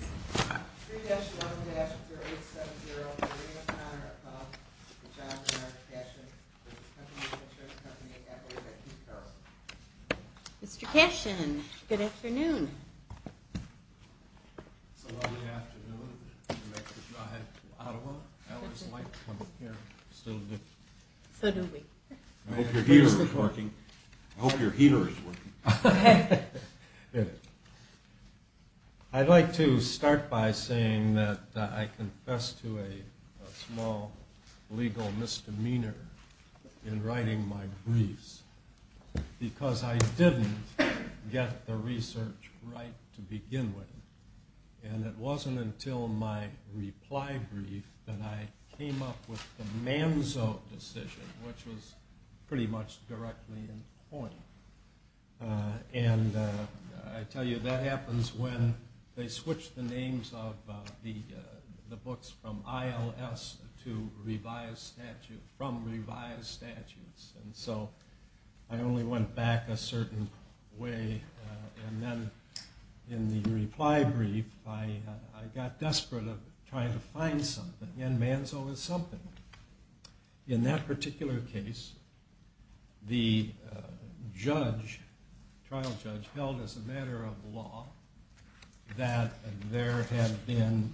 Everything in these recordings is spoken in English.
3-1-0870 Maria O'Connor of John Bernard Cashen, Country Mutual Insurance Company at OPEC, New Carolina. Mr. Cashen, good afternoon. It's a lovely afternoon to make the drive from Ottawa. I always like coming here. So do we. I hope your heater is working. I hope your heater is working. I'd like to start by saying that I confess to a small legal misdemeanor in writing my briefs because I didn't get the research right to begin with. And it wasn't until my reply brief that I came up with the Manzo decision, which was pretty much directly in point. And I tell you, that happens when they switch the names of the books from ILS to revised statutes, from revised statutes. And so I only went back a certain way. And then in the reply brief, I got desperate of trying to find something. And Manzo is something. In that particular case, the trial judge held as a matter of law that there had been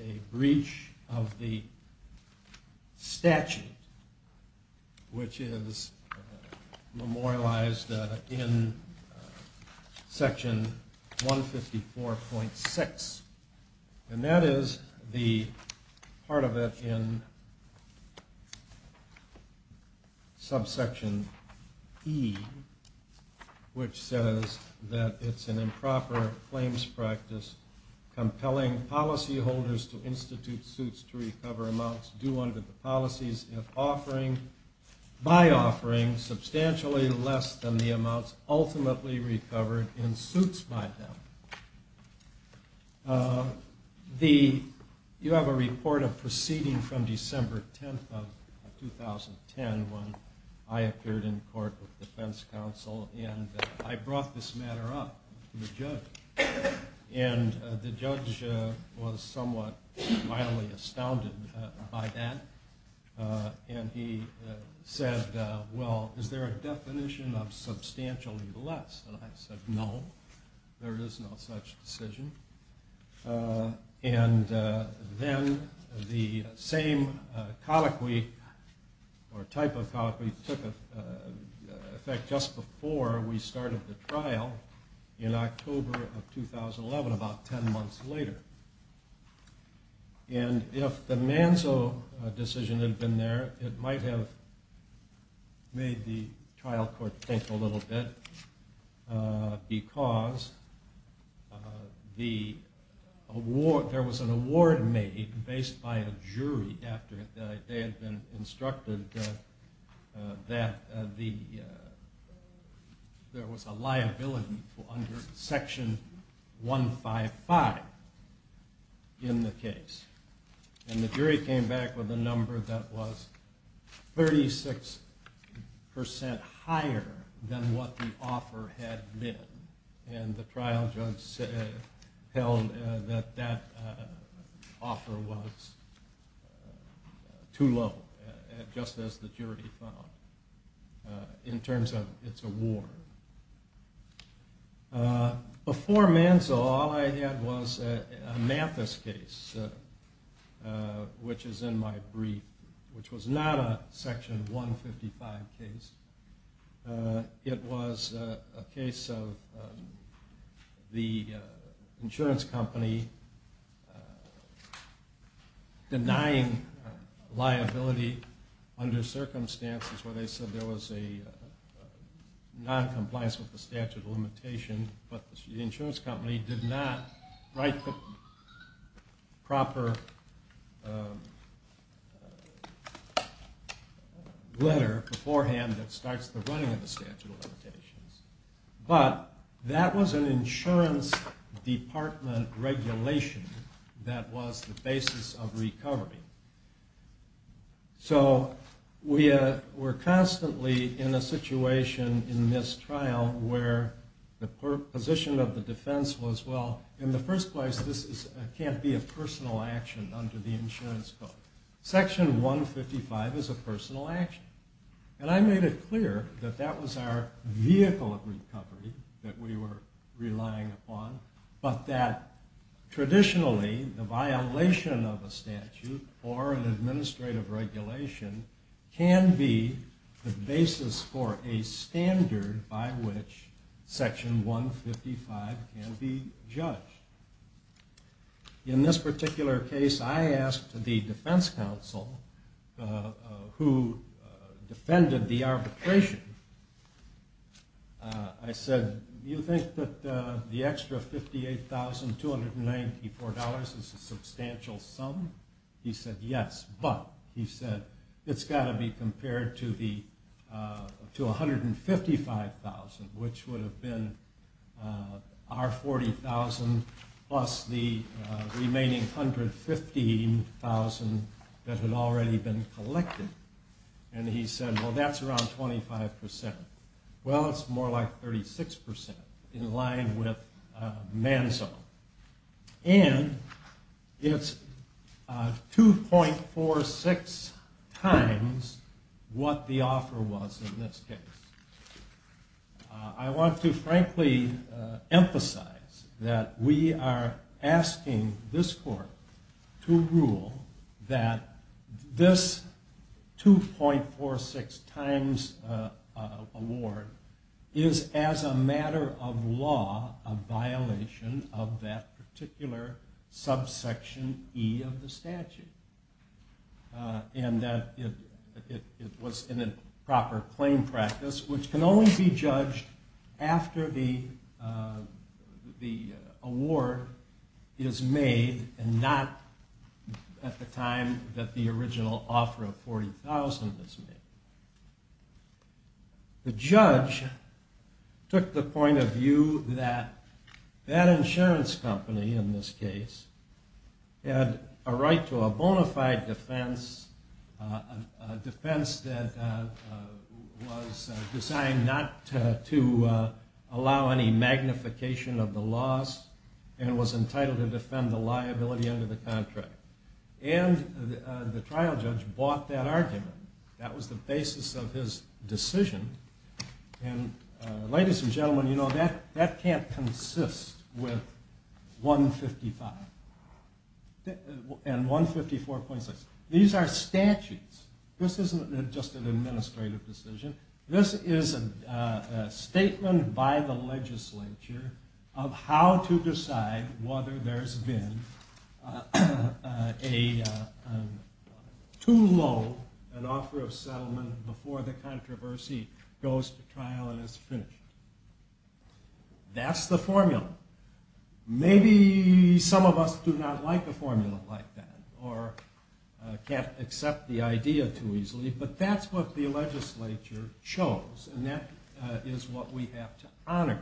a breach of the statute, which is memorialized in Section 154.6. And that is the part of it in subsection E, which says that it's an improper claims practice compelling policyholders to institute suits to recover amounts due under the policies, if by offering substantially less than the amounts ultimately recovered in suits by them. You have a report of proceeding from December 10th of 2010 when I appeared in court with the defense counsel. And I brought this matter up to the judge. And the judge was somewhat mildly astounded by that. And he said, well, is there a definition of substantially less? And I said, no, there is no such decision. And then the same colloquy or type of colloquy took effect just before we started the trial in October of 2011, about 10 months later. And if the Manzo decision had been there, it might have made the trial court think a little bit. Because there was an award made based by a jury after they had been instructed that there was a liability under Section 155 in the case. And the jury came back with a number that was 36% higher than what the offer had been. And the trial judge held that that offer was too low, just as the jury found, in terms of its award. Before Manzo, all I had was a Mathis case, which is in my brief, which was not a Section 155 case. It was a case of the insurance company denying liability under circumstances where they said there was a noncompliance with the statute of limitation. But the insurance company did not write the proper letter beforehand that starts the running of the statute of limitations. But that was an insurance department regulation that was the basis of recovery. So we're constantly in a situation in this trial where the position of the defense was, well, in the first place, this can't be a personal action under the insurance code. Section 155 is a personal action. And I made it clear that that was our vehicle of recovery that we were relying upon, but that traditionally the violation of a statute or an administrative regulation can be the basis for a standard by which Section 155 can be judged. In this particular case, I asked the defense counsel who defended the arbitration, I said, you think that the extra $58,294 is a substantial sum? He said yes, but he said it's got to be compared to $155,000, which would have been our $40,000 plus the remaining $115,000 that had already been collected. And he said, well, that's around 25%. Well, it's more like 36% in line with Manzo. And it's 2.46 times what the offer was in this case. I want to frankly emphasize that we are asking this court to rule that this 2.46 times award is, as a matter of law, a violation of that particular subsection E of the statute. And that it was in a proper claim practice, which can only be judged after the award is made and not at the time that the original offer of $40,000 is made. The judge took the point of view that that insurance company, in this case, had a right to a bona fide defense, a defense that was designed not to allow any magnification of the loss, and was entitled to defend the liability under the contract. And the trial judge bought that argument. That was the basis of his decision. And ladies and gentlemen, you know, that can't consist with 155 and 154.6. These are statutes. This isn't just an administrative decision. This is a statement by the legislature of how to decide whether there's been too low an offer of settlement before the controversy goes to trial and is finished. That's the formula. Maybe some of us do not like the formula like that or can't accept the idea too easily, but that's what the legislature chose, and that is what we have to honor.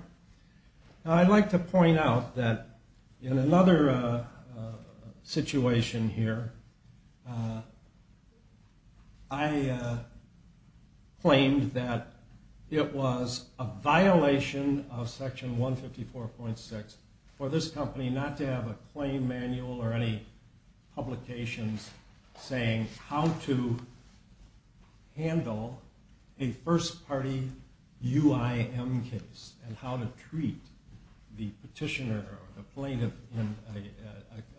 I'd like to point out that in another situation here, I claimed that it was a violation of Section 154.6 for this company not to have a claim manual or any publications saying how to handle a first party UIM case and how to treat the petitioner or the plaintiff in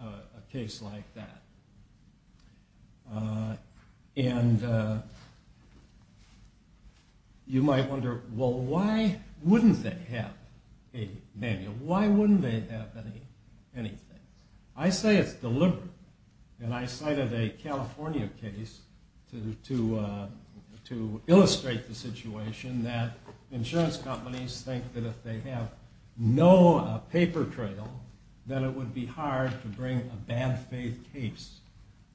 a case like that. And you might wonder, well, why wouldn't they have a manual? Why wouldn't they have anything? I say it's deliberate, and I cited a California case to illustrate the situation that insurance companies think that if they have no paper trail, then it would be hard to bring a bad faith case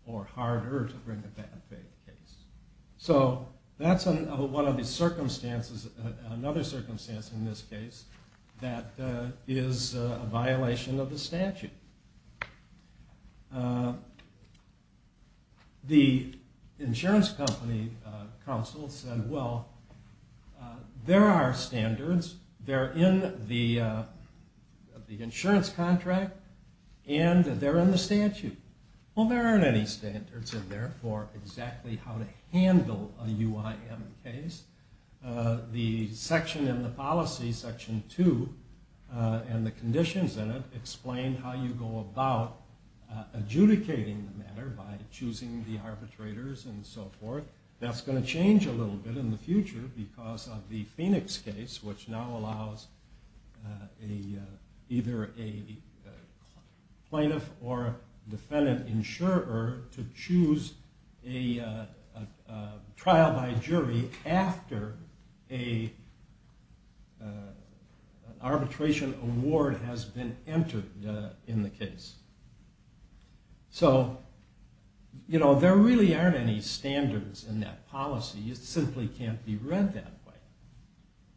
or harder to bring a bad faith case. So that's another circumstance in this case that is a violation of the statute. The insurance company counsel said, well, there are standards. They're in the insurance contract, and they're in the statute. Well, there aren't any standards in there for exactly how to handle a UIM case. The section in the policy, Section 2, and the conditions in it explain how you go about adjudicating the matter by choosing the arbitrators and so forth. That's going to change a little bit in the future because of the Phoenix case, which now allows either a plaintiff or a defendant insurer to choose a trial by jury after an arbitration award has been entered in the case. So there really aren't any standards in that policy. It simply can't be read that way.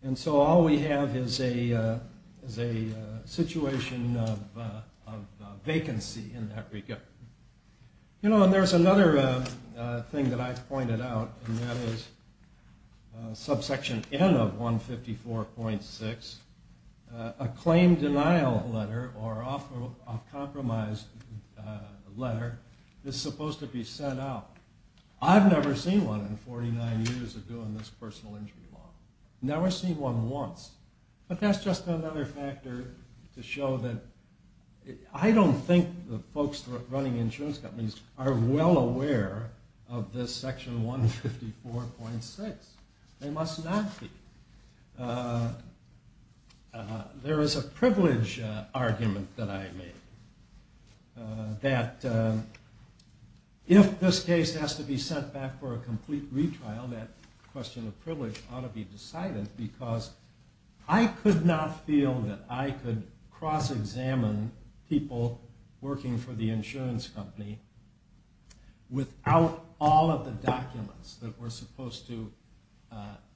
And so all we have is a situation of vacancy in that regard. You know, and there's another thing that I've pointed out, and that is subsection N of 154.6. A claim denial letter or off-compromise letter is supposed to be sent out. I've never seen one in 49 years of doing this personal injury law. Never seen one once. But that's just another factor to show that I don't think the folks running insurance companies are well aware of this Section 154.6. They must not be. There is a privilege argument that I made, that if this case has to be sent back for a complete retrial, that question of privilege ought to be decided because I could not feel that I could cross-examine people working for the insurance company without all of the documents that were supposed to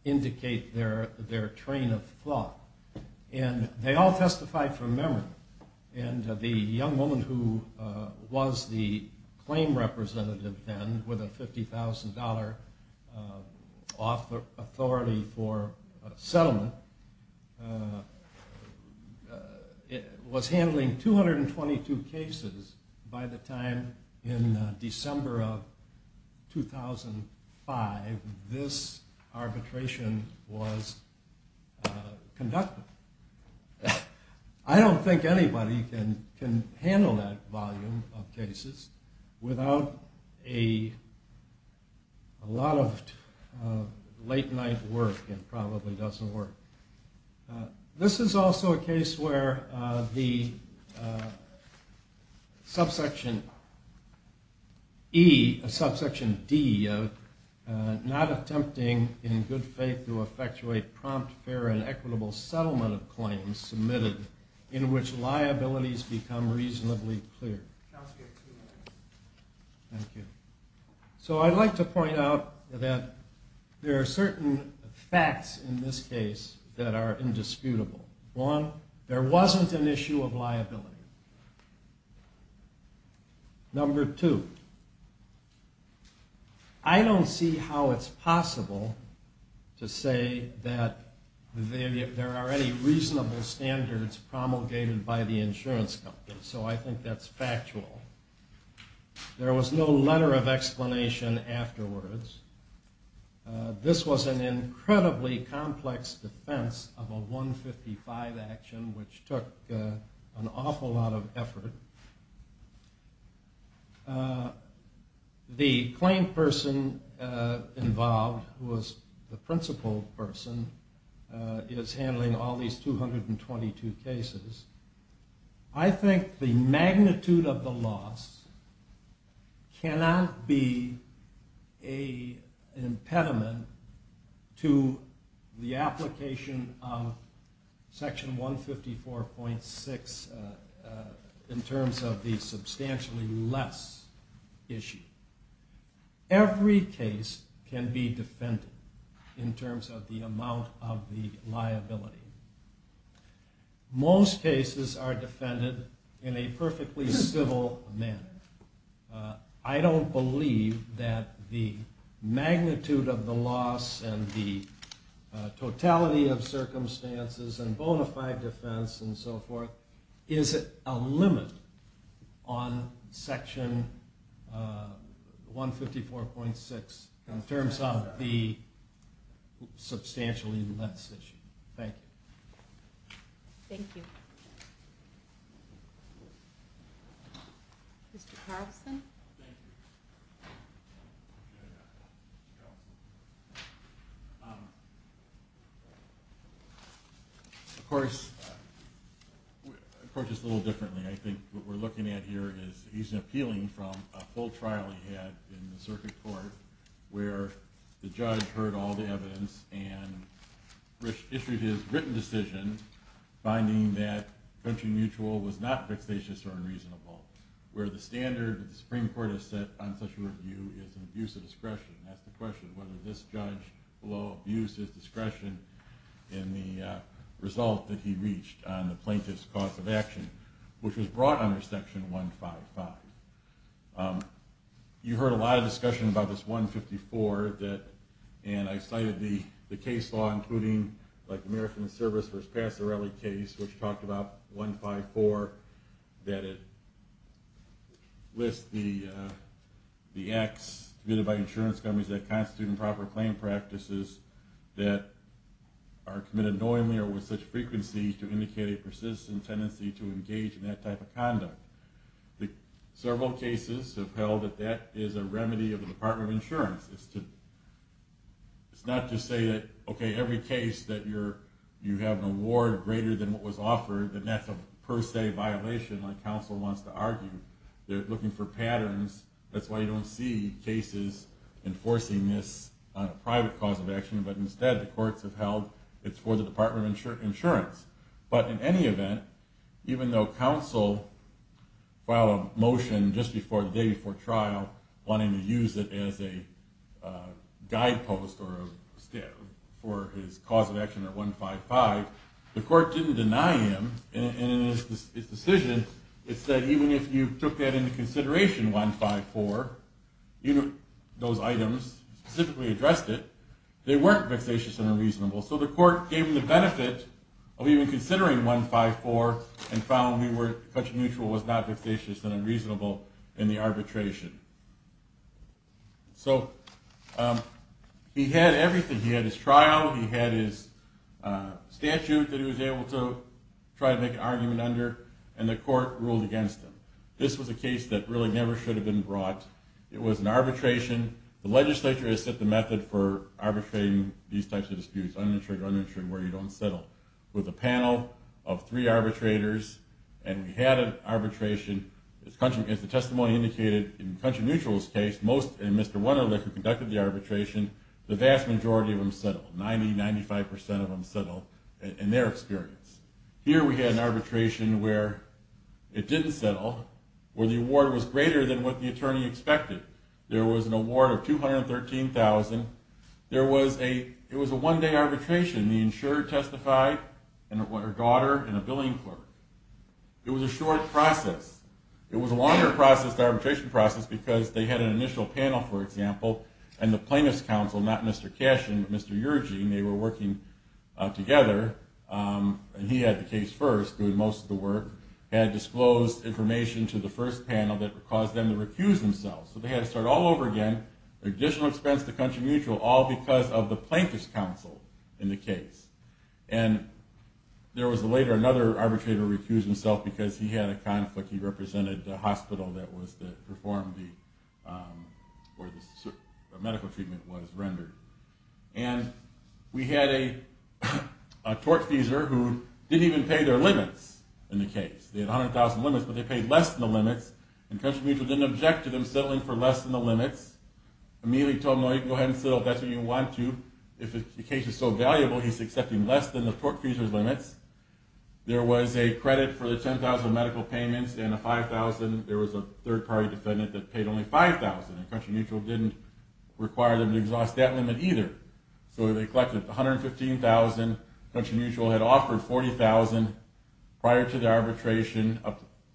indicate their train of thought. And they all testified from memory. And the young woman who was the claim representative then with a $50,000 authority for settlement was handling 222 cases by the time in December of 2005. This arbitration was conducted. I don't think anybody can handle that volume of cases without a lot of late-night work. It probably doesn't work. This is also a case where the subsection E, subsection D, not attempting in good faith to effectuate prompt, fair, and equitable settlement of claims submitted in which liabilities become reasonably clear. Thank you. So I'd like to point out that there are certain facts in this case that are indisputable. One, there wasn't an issue of liability. Number two, I don't see how it's possible to say that there are any reasonable standards promulgated by the insurance company. So I think that's factual. There was no letter of explanation afterwards. This was an incredibly complex defense of a 155 action, which took an awful lot of effort. The claim person involved, who was the principal person, is handling all these 222 cases. I think the magnitude of the loss cannot be an impediment to the application of Section 154.6 in terms of the substantially less issue. Every case can be defended in terms of the amount of the liability. Most cases are defended in a perfectly civil manner. I don't believe that the magnitude of the loss and the totality of circumstances and bona fide defense and so forth is a limit on Section 154.6 in terms of the substantially less issue. Thank you. Thank you. Mr. Carlson? Thank you. Of course, just a little differently, I think what we're looking at here is he's appealing from a full trial he had in the circuit court where the judge heard all the evidence and issued his written decision finding that venture mutual was not fixatious or unreasonable, where the standard that the Supreme Court has set on such a review is an abuse of discretion. That's the question, whether this judge will abuse his discretion in the result that he reached on the plaintiff's cause of action, which was brought under Section 155. You heard a lot of discussion about this 154, and I cited the case law including the American Service versus Passerelli case, which talked about 154 that lists the acts committed by insurance companies that constitute improper claim practices that are committed knowingly or with such frequency to indicate a persistent tendency to engage in that type of conduct. Several cases have held that that is a remedy of the Department of Insurance. It's not to say that every case that you have an award greater than what was offered, that that's a per se violation like counsel wants to argue. They're looking for patterns, that's why you don't see cases enforcing this on a private cause of action, but instead the courts have held it's for the Department of Insurance. But in any event, even though counsel filed a motion just the day before trial wanting to use it as a guidepost for his cause of action or 155, the court didn't deny him, and in his decision it said even if you took that into consideration, 154, those items, he specifically addressed it, they weren't vexatious and unreasonable. So the court gave him the benefit of even considering 154 and found country mutual was not vexatious and unreasonable in the arbitration. So he had everything, he had his trial, he had his statute that he was able to try to make an argument under, and the court ruled against him. This was a case that really never should have been brought. It was an arbitration, the legislature has set the method for arbitrating these types of disputes, uninsured or uninsured, where you don't settle. With a panel of three arbitrators, and we had an arbitration, as the testimony indicated, in country mutual's case, most, and Mr. Wunderlich who conducted the arbitration, the vast majority of them settled, 90-95% of them settled in their experience. Here we had an arbitration where it didn't settle, where the award was greater than what the attorney expected. There was an award of $213,000, it was a one-day arbitration, the insurer testified, her daughter, and a billing clerk. It was a short process. It was a longer process, the arbitration process, because they had an initial panel, for example, and the plaintiff's counsel, not Mr. Cashin, but Mr. Yergin, they were working together, and he had the case first, doing most of the work, had disclosed information to the first panel that caused them to recuse themselves. So they had to start all over again, additional expense to country mutual, all because of the plaintiff's counsel in the case. And there was later another arbitrator who recused himself because he had a conflict, he represented the hospital that performed, or the medical treatment was rendered. And we had a tortfeasor who didn't even pay their limits in the case. They had 100,000 limits, but they paid less than the limits, and country mutual didn't object to them settling for less than the limits. Immediately told him, no, you can go ahead and settle if that's what you want to, if the case is so valuable, he's accepting less than the tortfeasor's limits. There was a credit for the 10,000 medical payments, and a 5,000, there was a third-party defendant that paid only 5,000, and country mutual didn't require them to exhaust that limit either. So they collected 115,000, country mutual had offered 40,000, prior to the arbitration,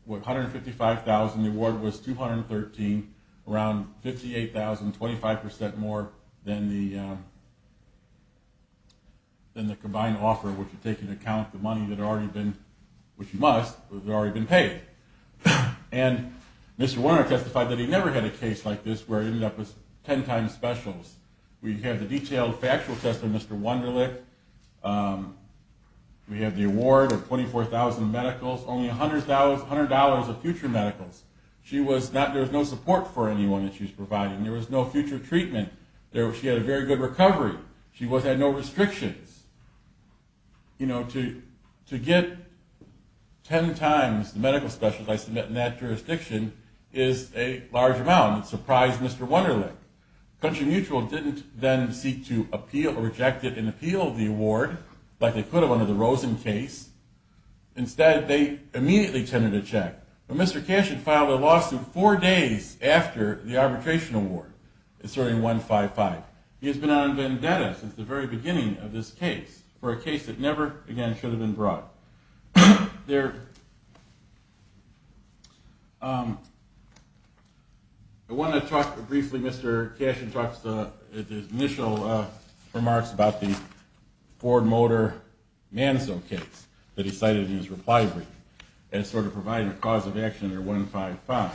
155,000, the award was 213,000, around 58,000, 25% more than the combined offer, which would take into account the money that had already been paid. And Mr. Warner testified that he never had a case like this where it ended up as 10 times specials. We have the detailed factual testimony of Mr. Wunderlich, we have the award of 24,000 medicals, only $100 of future medicals. She was not, there was no support for anyone that she was providing, there was no future treatment, she had a very good recovery, she had no restrictions. You know, to get 10 times the medical specials I submit in that jurisdiction is a large amount, it surprised Mr. Wunderlich. Country mutual didn't then seek to appeal or reject an appeal of the award, like they could have under the Rosen case, instead they immediately tended to check. But Mr. Cash had filed a lawsuit four days after the arbitration award, inserting 155. He has been on vendetta since the very beginning of this case, for a case that never again should have been brought. I want to talk briefly, Mr. Cash talks about his initial remarks about the Ford Motor Manso case that he cited in his reply brief as sort of providing a cause of action for 154.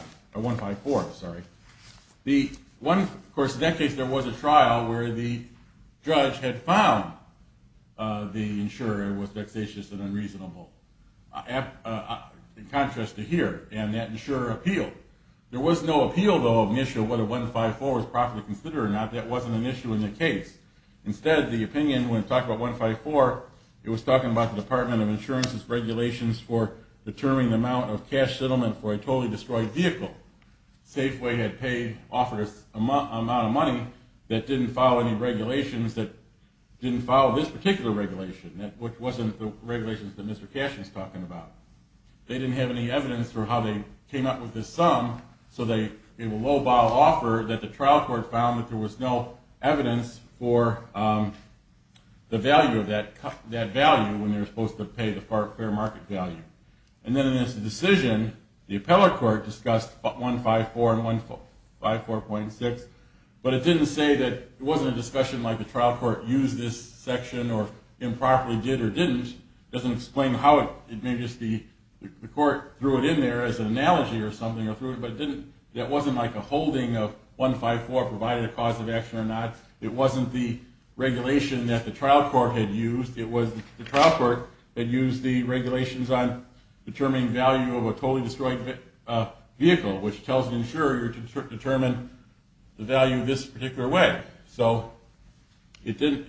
Of course in that case there was a trial where the judge had found the insurer was vexatious and unreasonable. In contrast to here, and that insurer appealed. There was no appeal though of whether 154 was properly considered or not, that wasn't an issue in the case. Instead the opinion when it talked about 154, it was talking about the Department of Insurance's regulations for determining the amount of cash settlement for a totally destroyed vehicle. Safeway had paid, offered an amount of money that didn't follow any regulations that didn't follow this particular regulation, which wasn't the regulations that Mr. Cash was talking about. They didn't have any evidence for how they came up with this sum, so they made a low-bow offer that the trial court found that there was no evidence for the value of that value when they were supposed to pay the fair market value. And then in its decision, the appellate court discussed 154 and 154.6, but it didn't say that it wasn't a discussion like the trial court used this section or improperly did or didn't. It doesn't explain how it may just be the court threw it in there as an analogy or something, but it wasn't like a holding of 154 provided a cause of action or not. It wasn't the regulation that the trial court had used. It was the trial court that used the regulations on determining value of a totally destroyed vehicle, which tells the insurer to determine the value this particular way. So there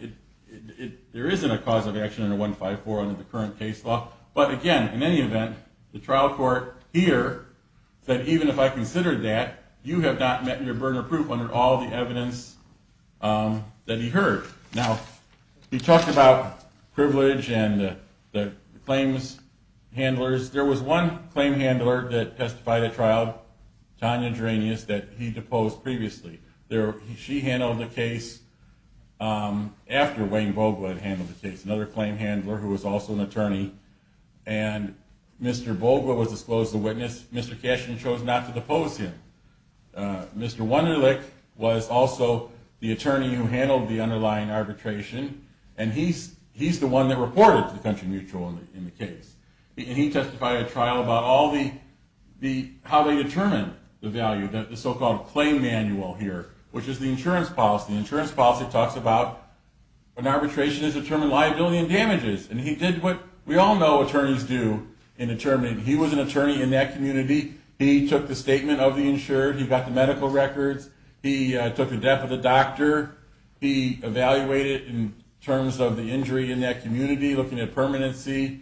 isn't a cause of action under 154 under the current case law, but again, in any event, the trial court here said even if I considered that, you have not met your burner proof under all the evidence that he heard. Now, he talked about privilege and the claims handlers. There was one claim handler that testified at trial, Tanya Drenius, that he deposed previously. She handled the case after Wayne Handler, who was also an attorney, and Mr. Bolger was disclosed as a witness. Mr. Cashin chose not to depose him. Mr. Wunderlich was also the attorney who handled the underlying arbitration, and he's the one that reported to the country mutual in the case. And he testified at trial about how they determine the value, the so-called claim manual here, which is the insurance policy. The insurance policy talks about when arbitration is determined, liability and damages. And he did what we all know attorneys do in determining. He was an attorney in that community. He took the statement of the insured. He got the medical records. He took the death of the doctor. He evaluated in terms of the injury in that community, looking at permanency,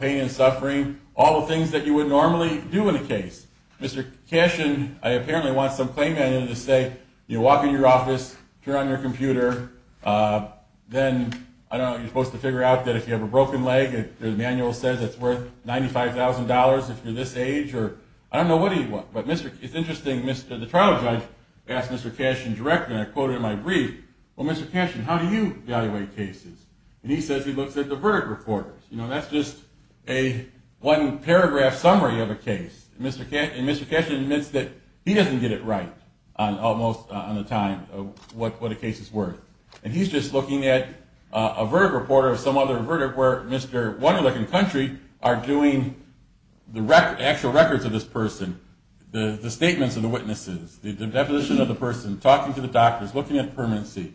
pain and suffering, all the things that you would normally do in a case. Mr. Cashin apparently wants some claim manual to say you walk in your office, turn on your computer, then I don't know, you're supposed to figure out that if you have a broken leg, the manual says it's worth $95,000 if you're this age. I don't know what he wants. But it's interesting, the trial judge asked Mr. Cashin directly, and I quote in my brief, well, Mr. Cashin, how do you evaluate cases? And he says he looks at the verdict report. That's just a one-paragraph summary of a case. And Mr. Cashin admits that he doesn't get it right almost on the time of what a case is worth. And he's just looking at a verdict report of some other verdict where Mr. Wunderlich and country are doing the actual records of this person, the statements of the witnesses, the definition of the person, talking to the doctors, looking at permanency,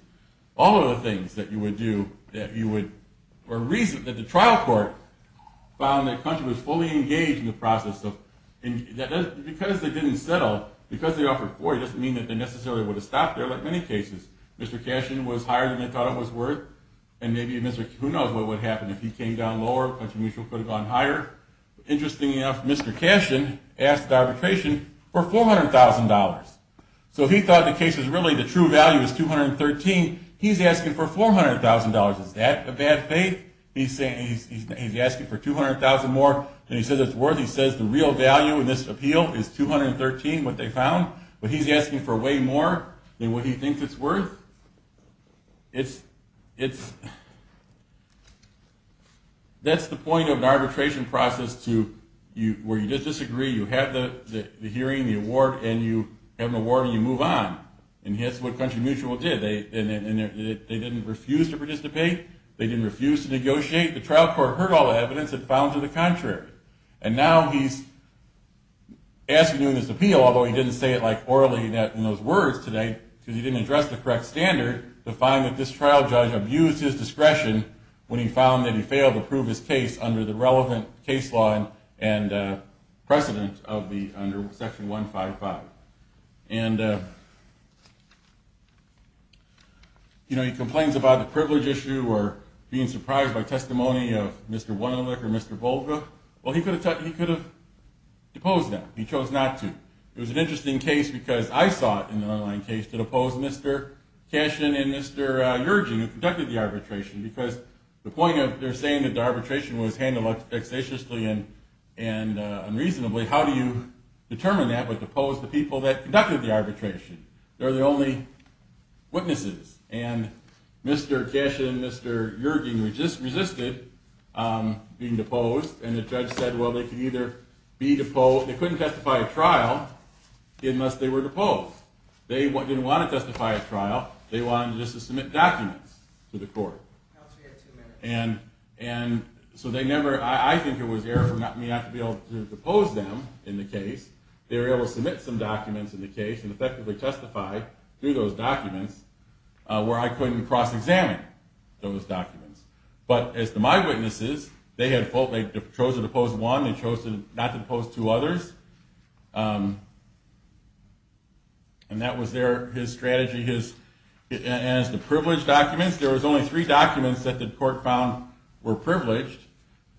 all of the things that you would do. The trial court found that country was fully engaged in the process. Because they didn't settle, because they offered 40, it doesn't mean that they necessarily would have stopped there like many cases. Mr. Cashin was higher than they thought it was worth, and maybe Mr. who knows what would have happened if he came down lower, country mutual could have gone higher. Interesting enough, Mr. Cashin asked the arbitration for $400,000. So he thought the case was really the true value is $213,000. He's asking for $400,000. Is that a bad faith? He's asking for $200,000 more than he says it's worth. He says the real value in this appeal is $213,000, what they found. But he's asking for way more than what he thinks it's worth. That's the point of an arbitration process where you disagree, you have the hearing, the award, and you have an award and you move on. And that's what country mutual did. They didn't refuse to participate, they didn't refuse to negotiate, the trial court heard all the evidence and found to the contrary. And now he's asking you in this appeal, although he didn't say it like orally in those words today, because he didn't address the correct standard, to find that this trial judge abused his discretion when he found that he failed to prove his case under the relevant case law and precedent under section 155. And he complains about the privilege issue or being surprised by testimony of Mr. Wonolik or Mr. Volga. Well, he could have deposed them. He chose not to. It was an interesting case because I saw it in the underlying case to depose Mr. Cashin and Mr. Yergin who conducted the arbitration because the point of their saying that the arbitration was handled vexatiously and unreasonably, how do you determine that but depose the people that conducted the arbitration? They're the only witnesses. And Mr. Cashin and Mr. Yergin resisted being deposed and the judge said they couldn't testify at trial unless they were deposed. They didn't want to testify at trial, they wanted just to submit documents to the court. And so they never, I think it was error for me not to be able to depose them in the case. They were able to submit some documents in the case and effectively testify through those documents where I couldn't cross-examine those documents. But as to my witnesses, they had chosen to depose one. They chose not to depose two others. And that was their strategy. And as to privileged documents, there was only three documents that the court found were privileged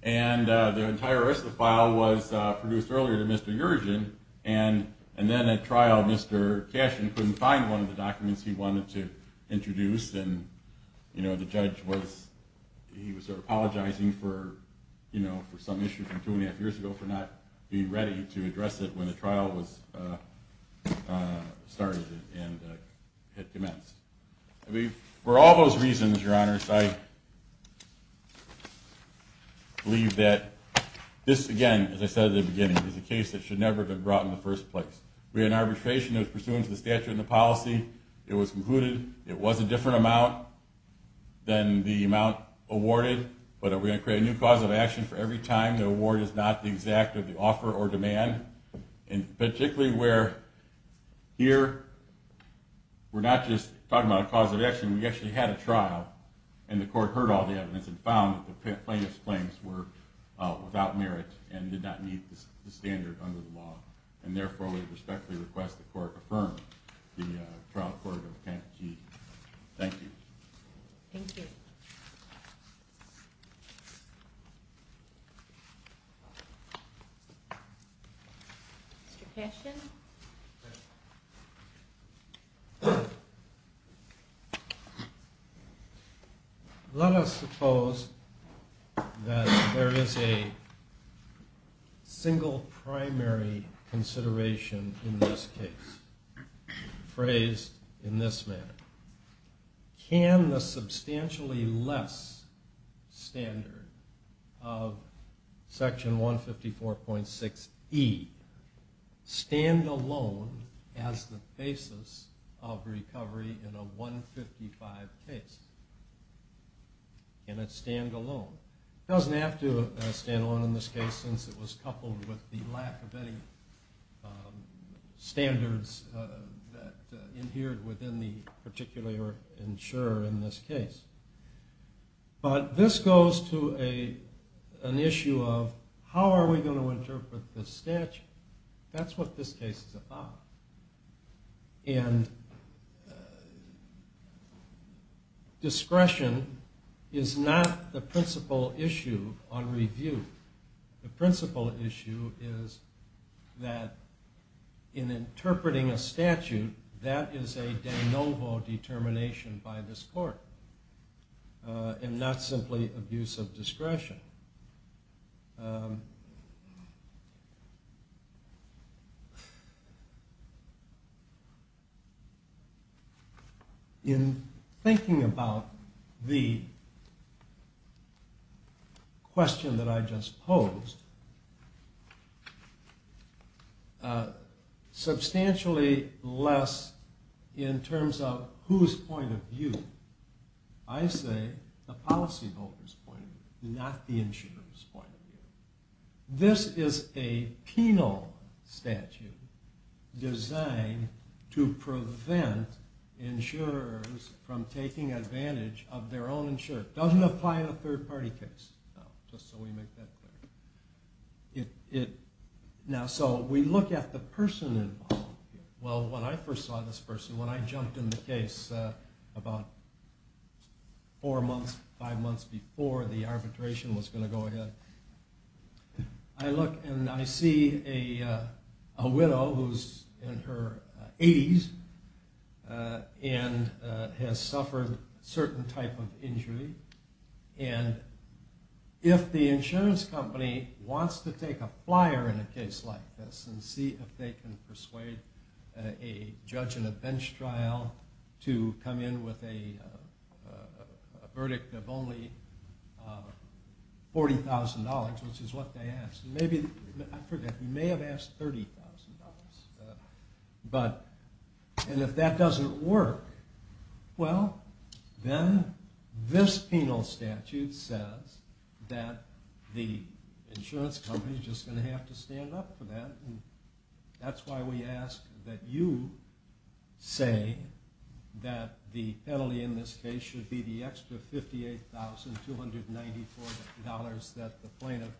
and the entire rest of the file was produced earlier to Mr. Yergin. And then at trial, Mr. Cashin couldn't find one of the documents he wanted to introduce and the judge was apologizing for some issue from two and a half years ago for not being ready to address it when the trial started and had commenced. For all those reasons, your honors, I believe that this again, as I said at the beginning, is a case that should never have been brought in the first place. We had an arbitration that was pursuant to the statute and the policy. It was concluded it was a different amount than the amount awarded, but we're going to create a new cause of action for every time the award is not the exact of the offer or demand. And particularly where here we're not just talking about a cause of action, we actually had a trial and the court heard all the evidence and found that the plaintiff's claims were without merit and did not meet the standard under the law. And therefore we respectfully request the court affirm the trial court of Pat G. Thank you. Thank you. Mr. Cashin. Let us suppose that there is a single primary consideration in this case, phrased in this manner. Can the substantially less standard of section 154.6E stand alone as the basis of recovery in a 155 case? Can it stand alone? It doesn't have to stand alone in this case since it was coupled with the lack of any standards that adhered within the particular insurer in this case. But this goes to an issue of how are we going to interpret the statute? That's what this case is about. And discretion is not the principal issue on review. The principal issue is that in interpreting a statute, that is a de novo determination by this court and not simply abuse of discretion. In thinking about the question that I just posed, substantially less in terms of whose point of view. I say the policy voters' point of view, not the insurer's point of view. This is a penal statute designed to prevent insurers from taking advantage of their own insurer. It doesn't apply in a third party case, just so we make that clear. Now, so we look at the person involved. Well, when I first saw this person, when I jumped in the case about four months, five months before the arbitration was going to go ahead, I look and I see a widow who's in her 80s and has suffered a certain type of injury. And if the insurance company wants to take a flyer in a case like this and see if they can persuade a judge in a bench trial to come in with a verdict of only $40,000, which is what they asked. I forget, we may have asked $30,000. And if that doesn't work, well, then this penal statute says that the insurance company is just going to have to stand up for that. That's why we ask that you say that the penalty in this case should be the extra $58,294 that the plaintiff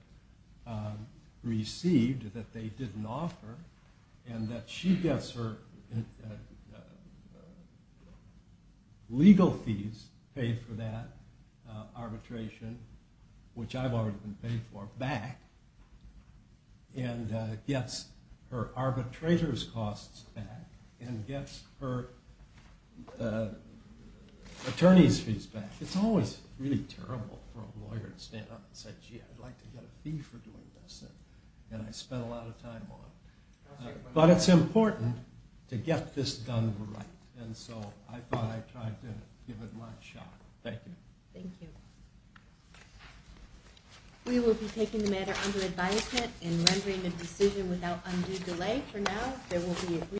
received that they didn't offer, and that she gets her legal fees paid for that arbitration, which I've already been paid for, back, and gets her arbitrator's costs back, and gets her attorney's fees back. It's always really terrible for a lawyer to stand up and say, gee, I'd like to get a fee for doing this, and I spent a lot of time on it. But it's important to get this done right. And so I thought I'd try to give it my shot. Thank you. Thank you. We will be taking the matter under advisement and rendering a decision without undue delay for now.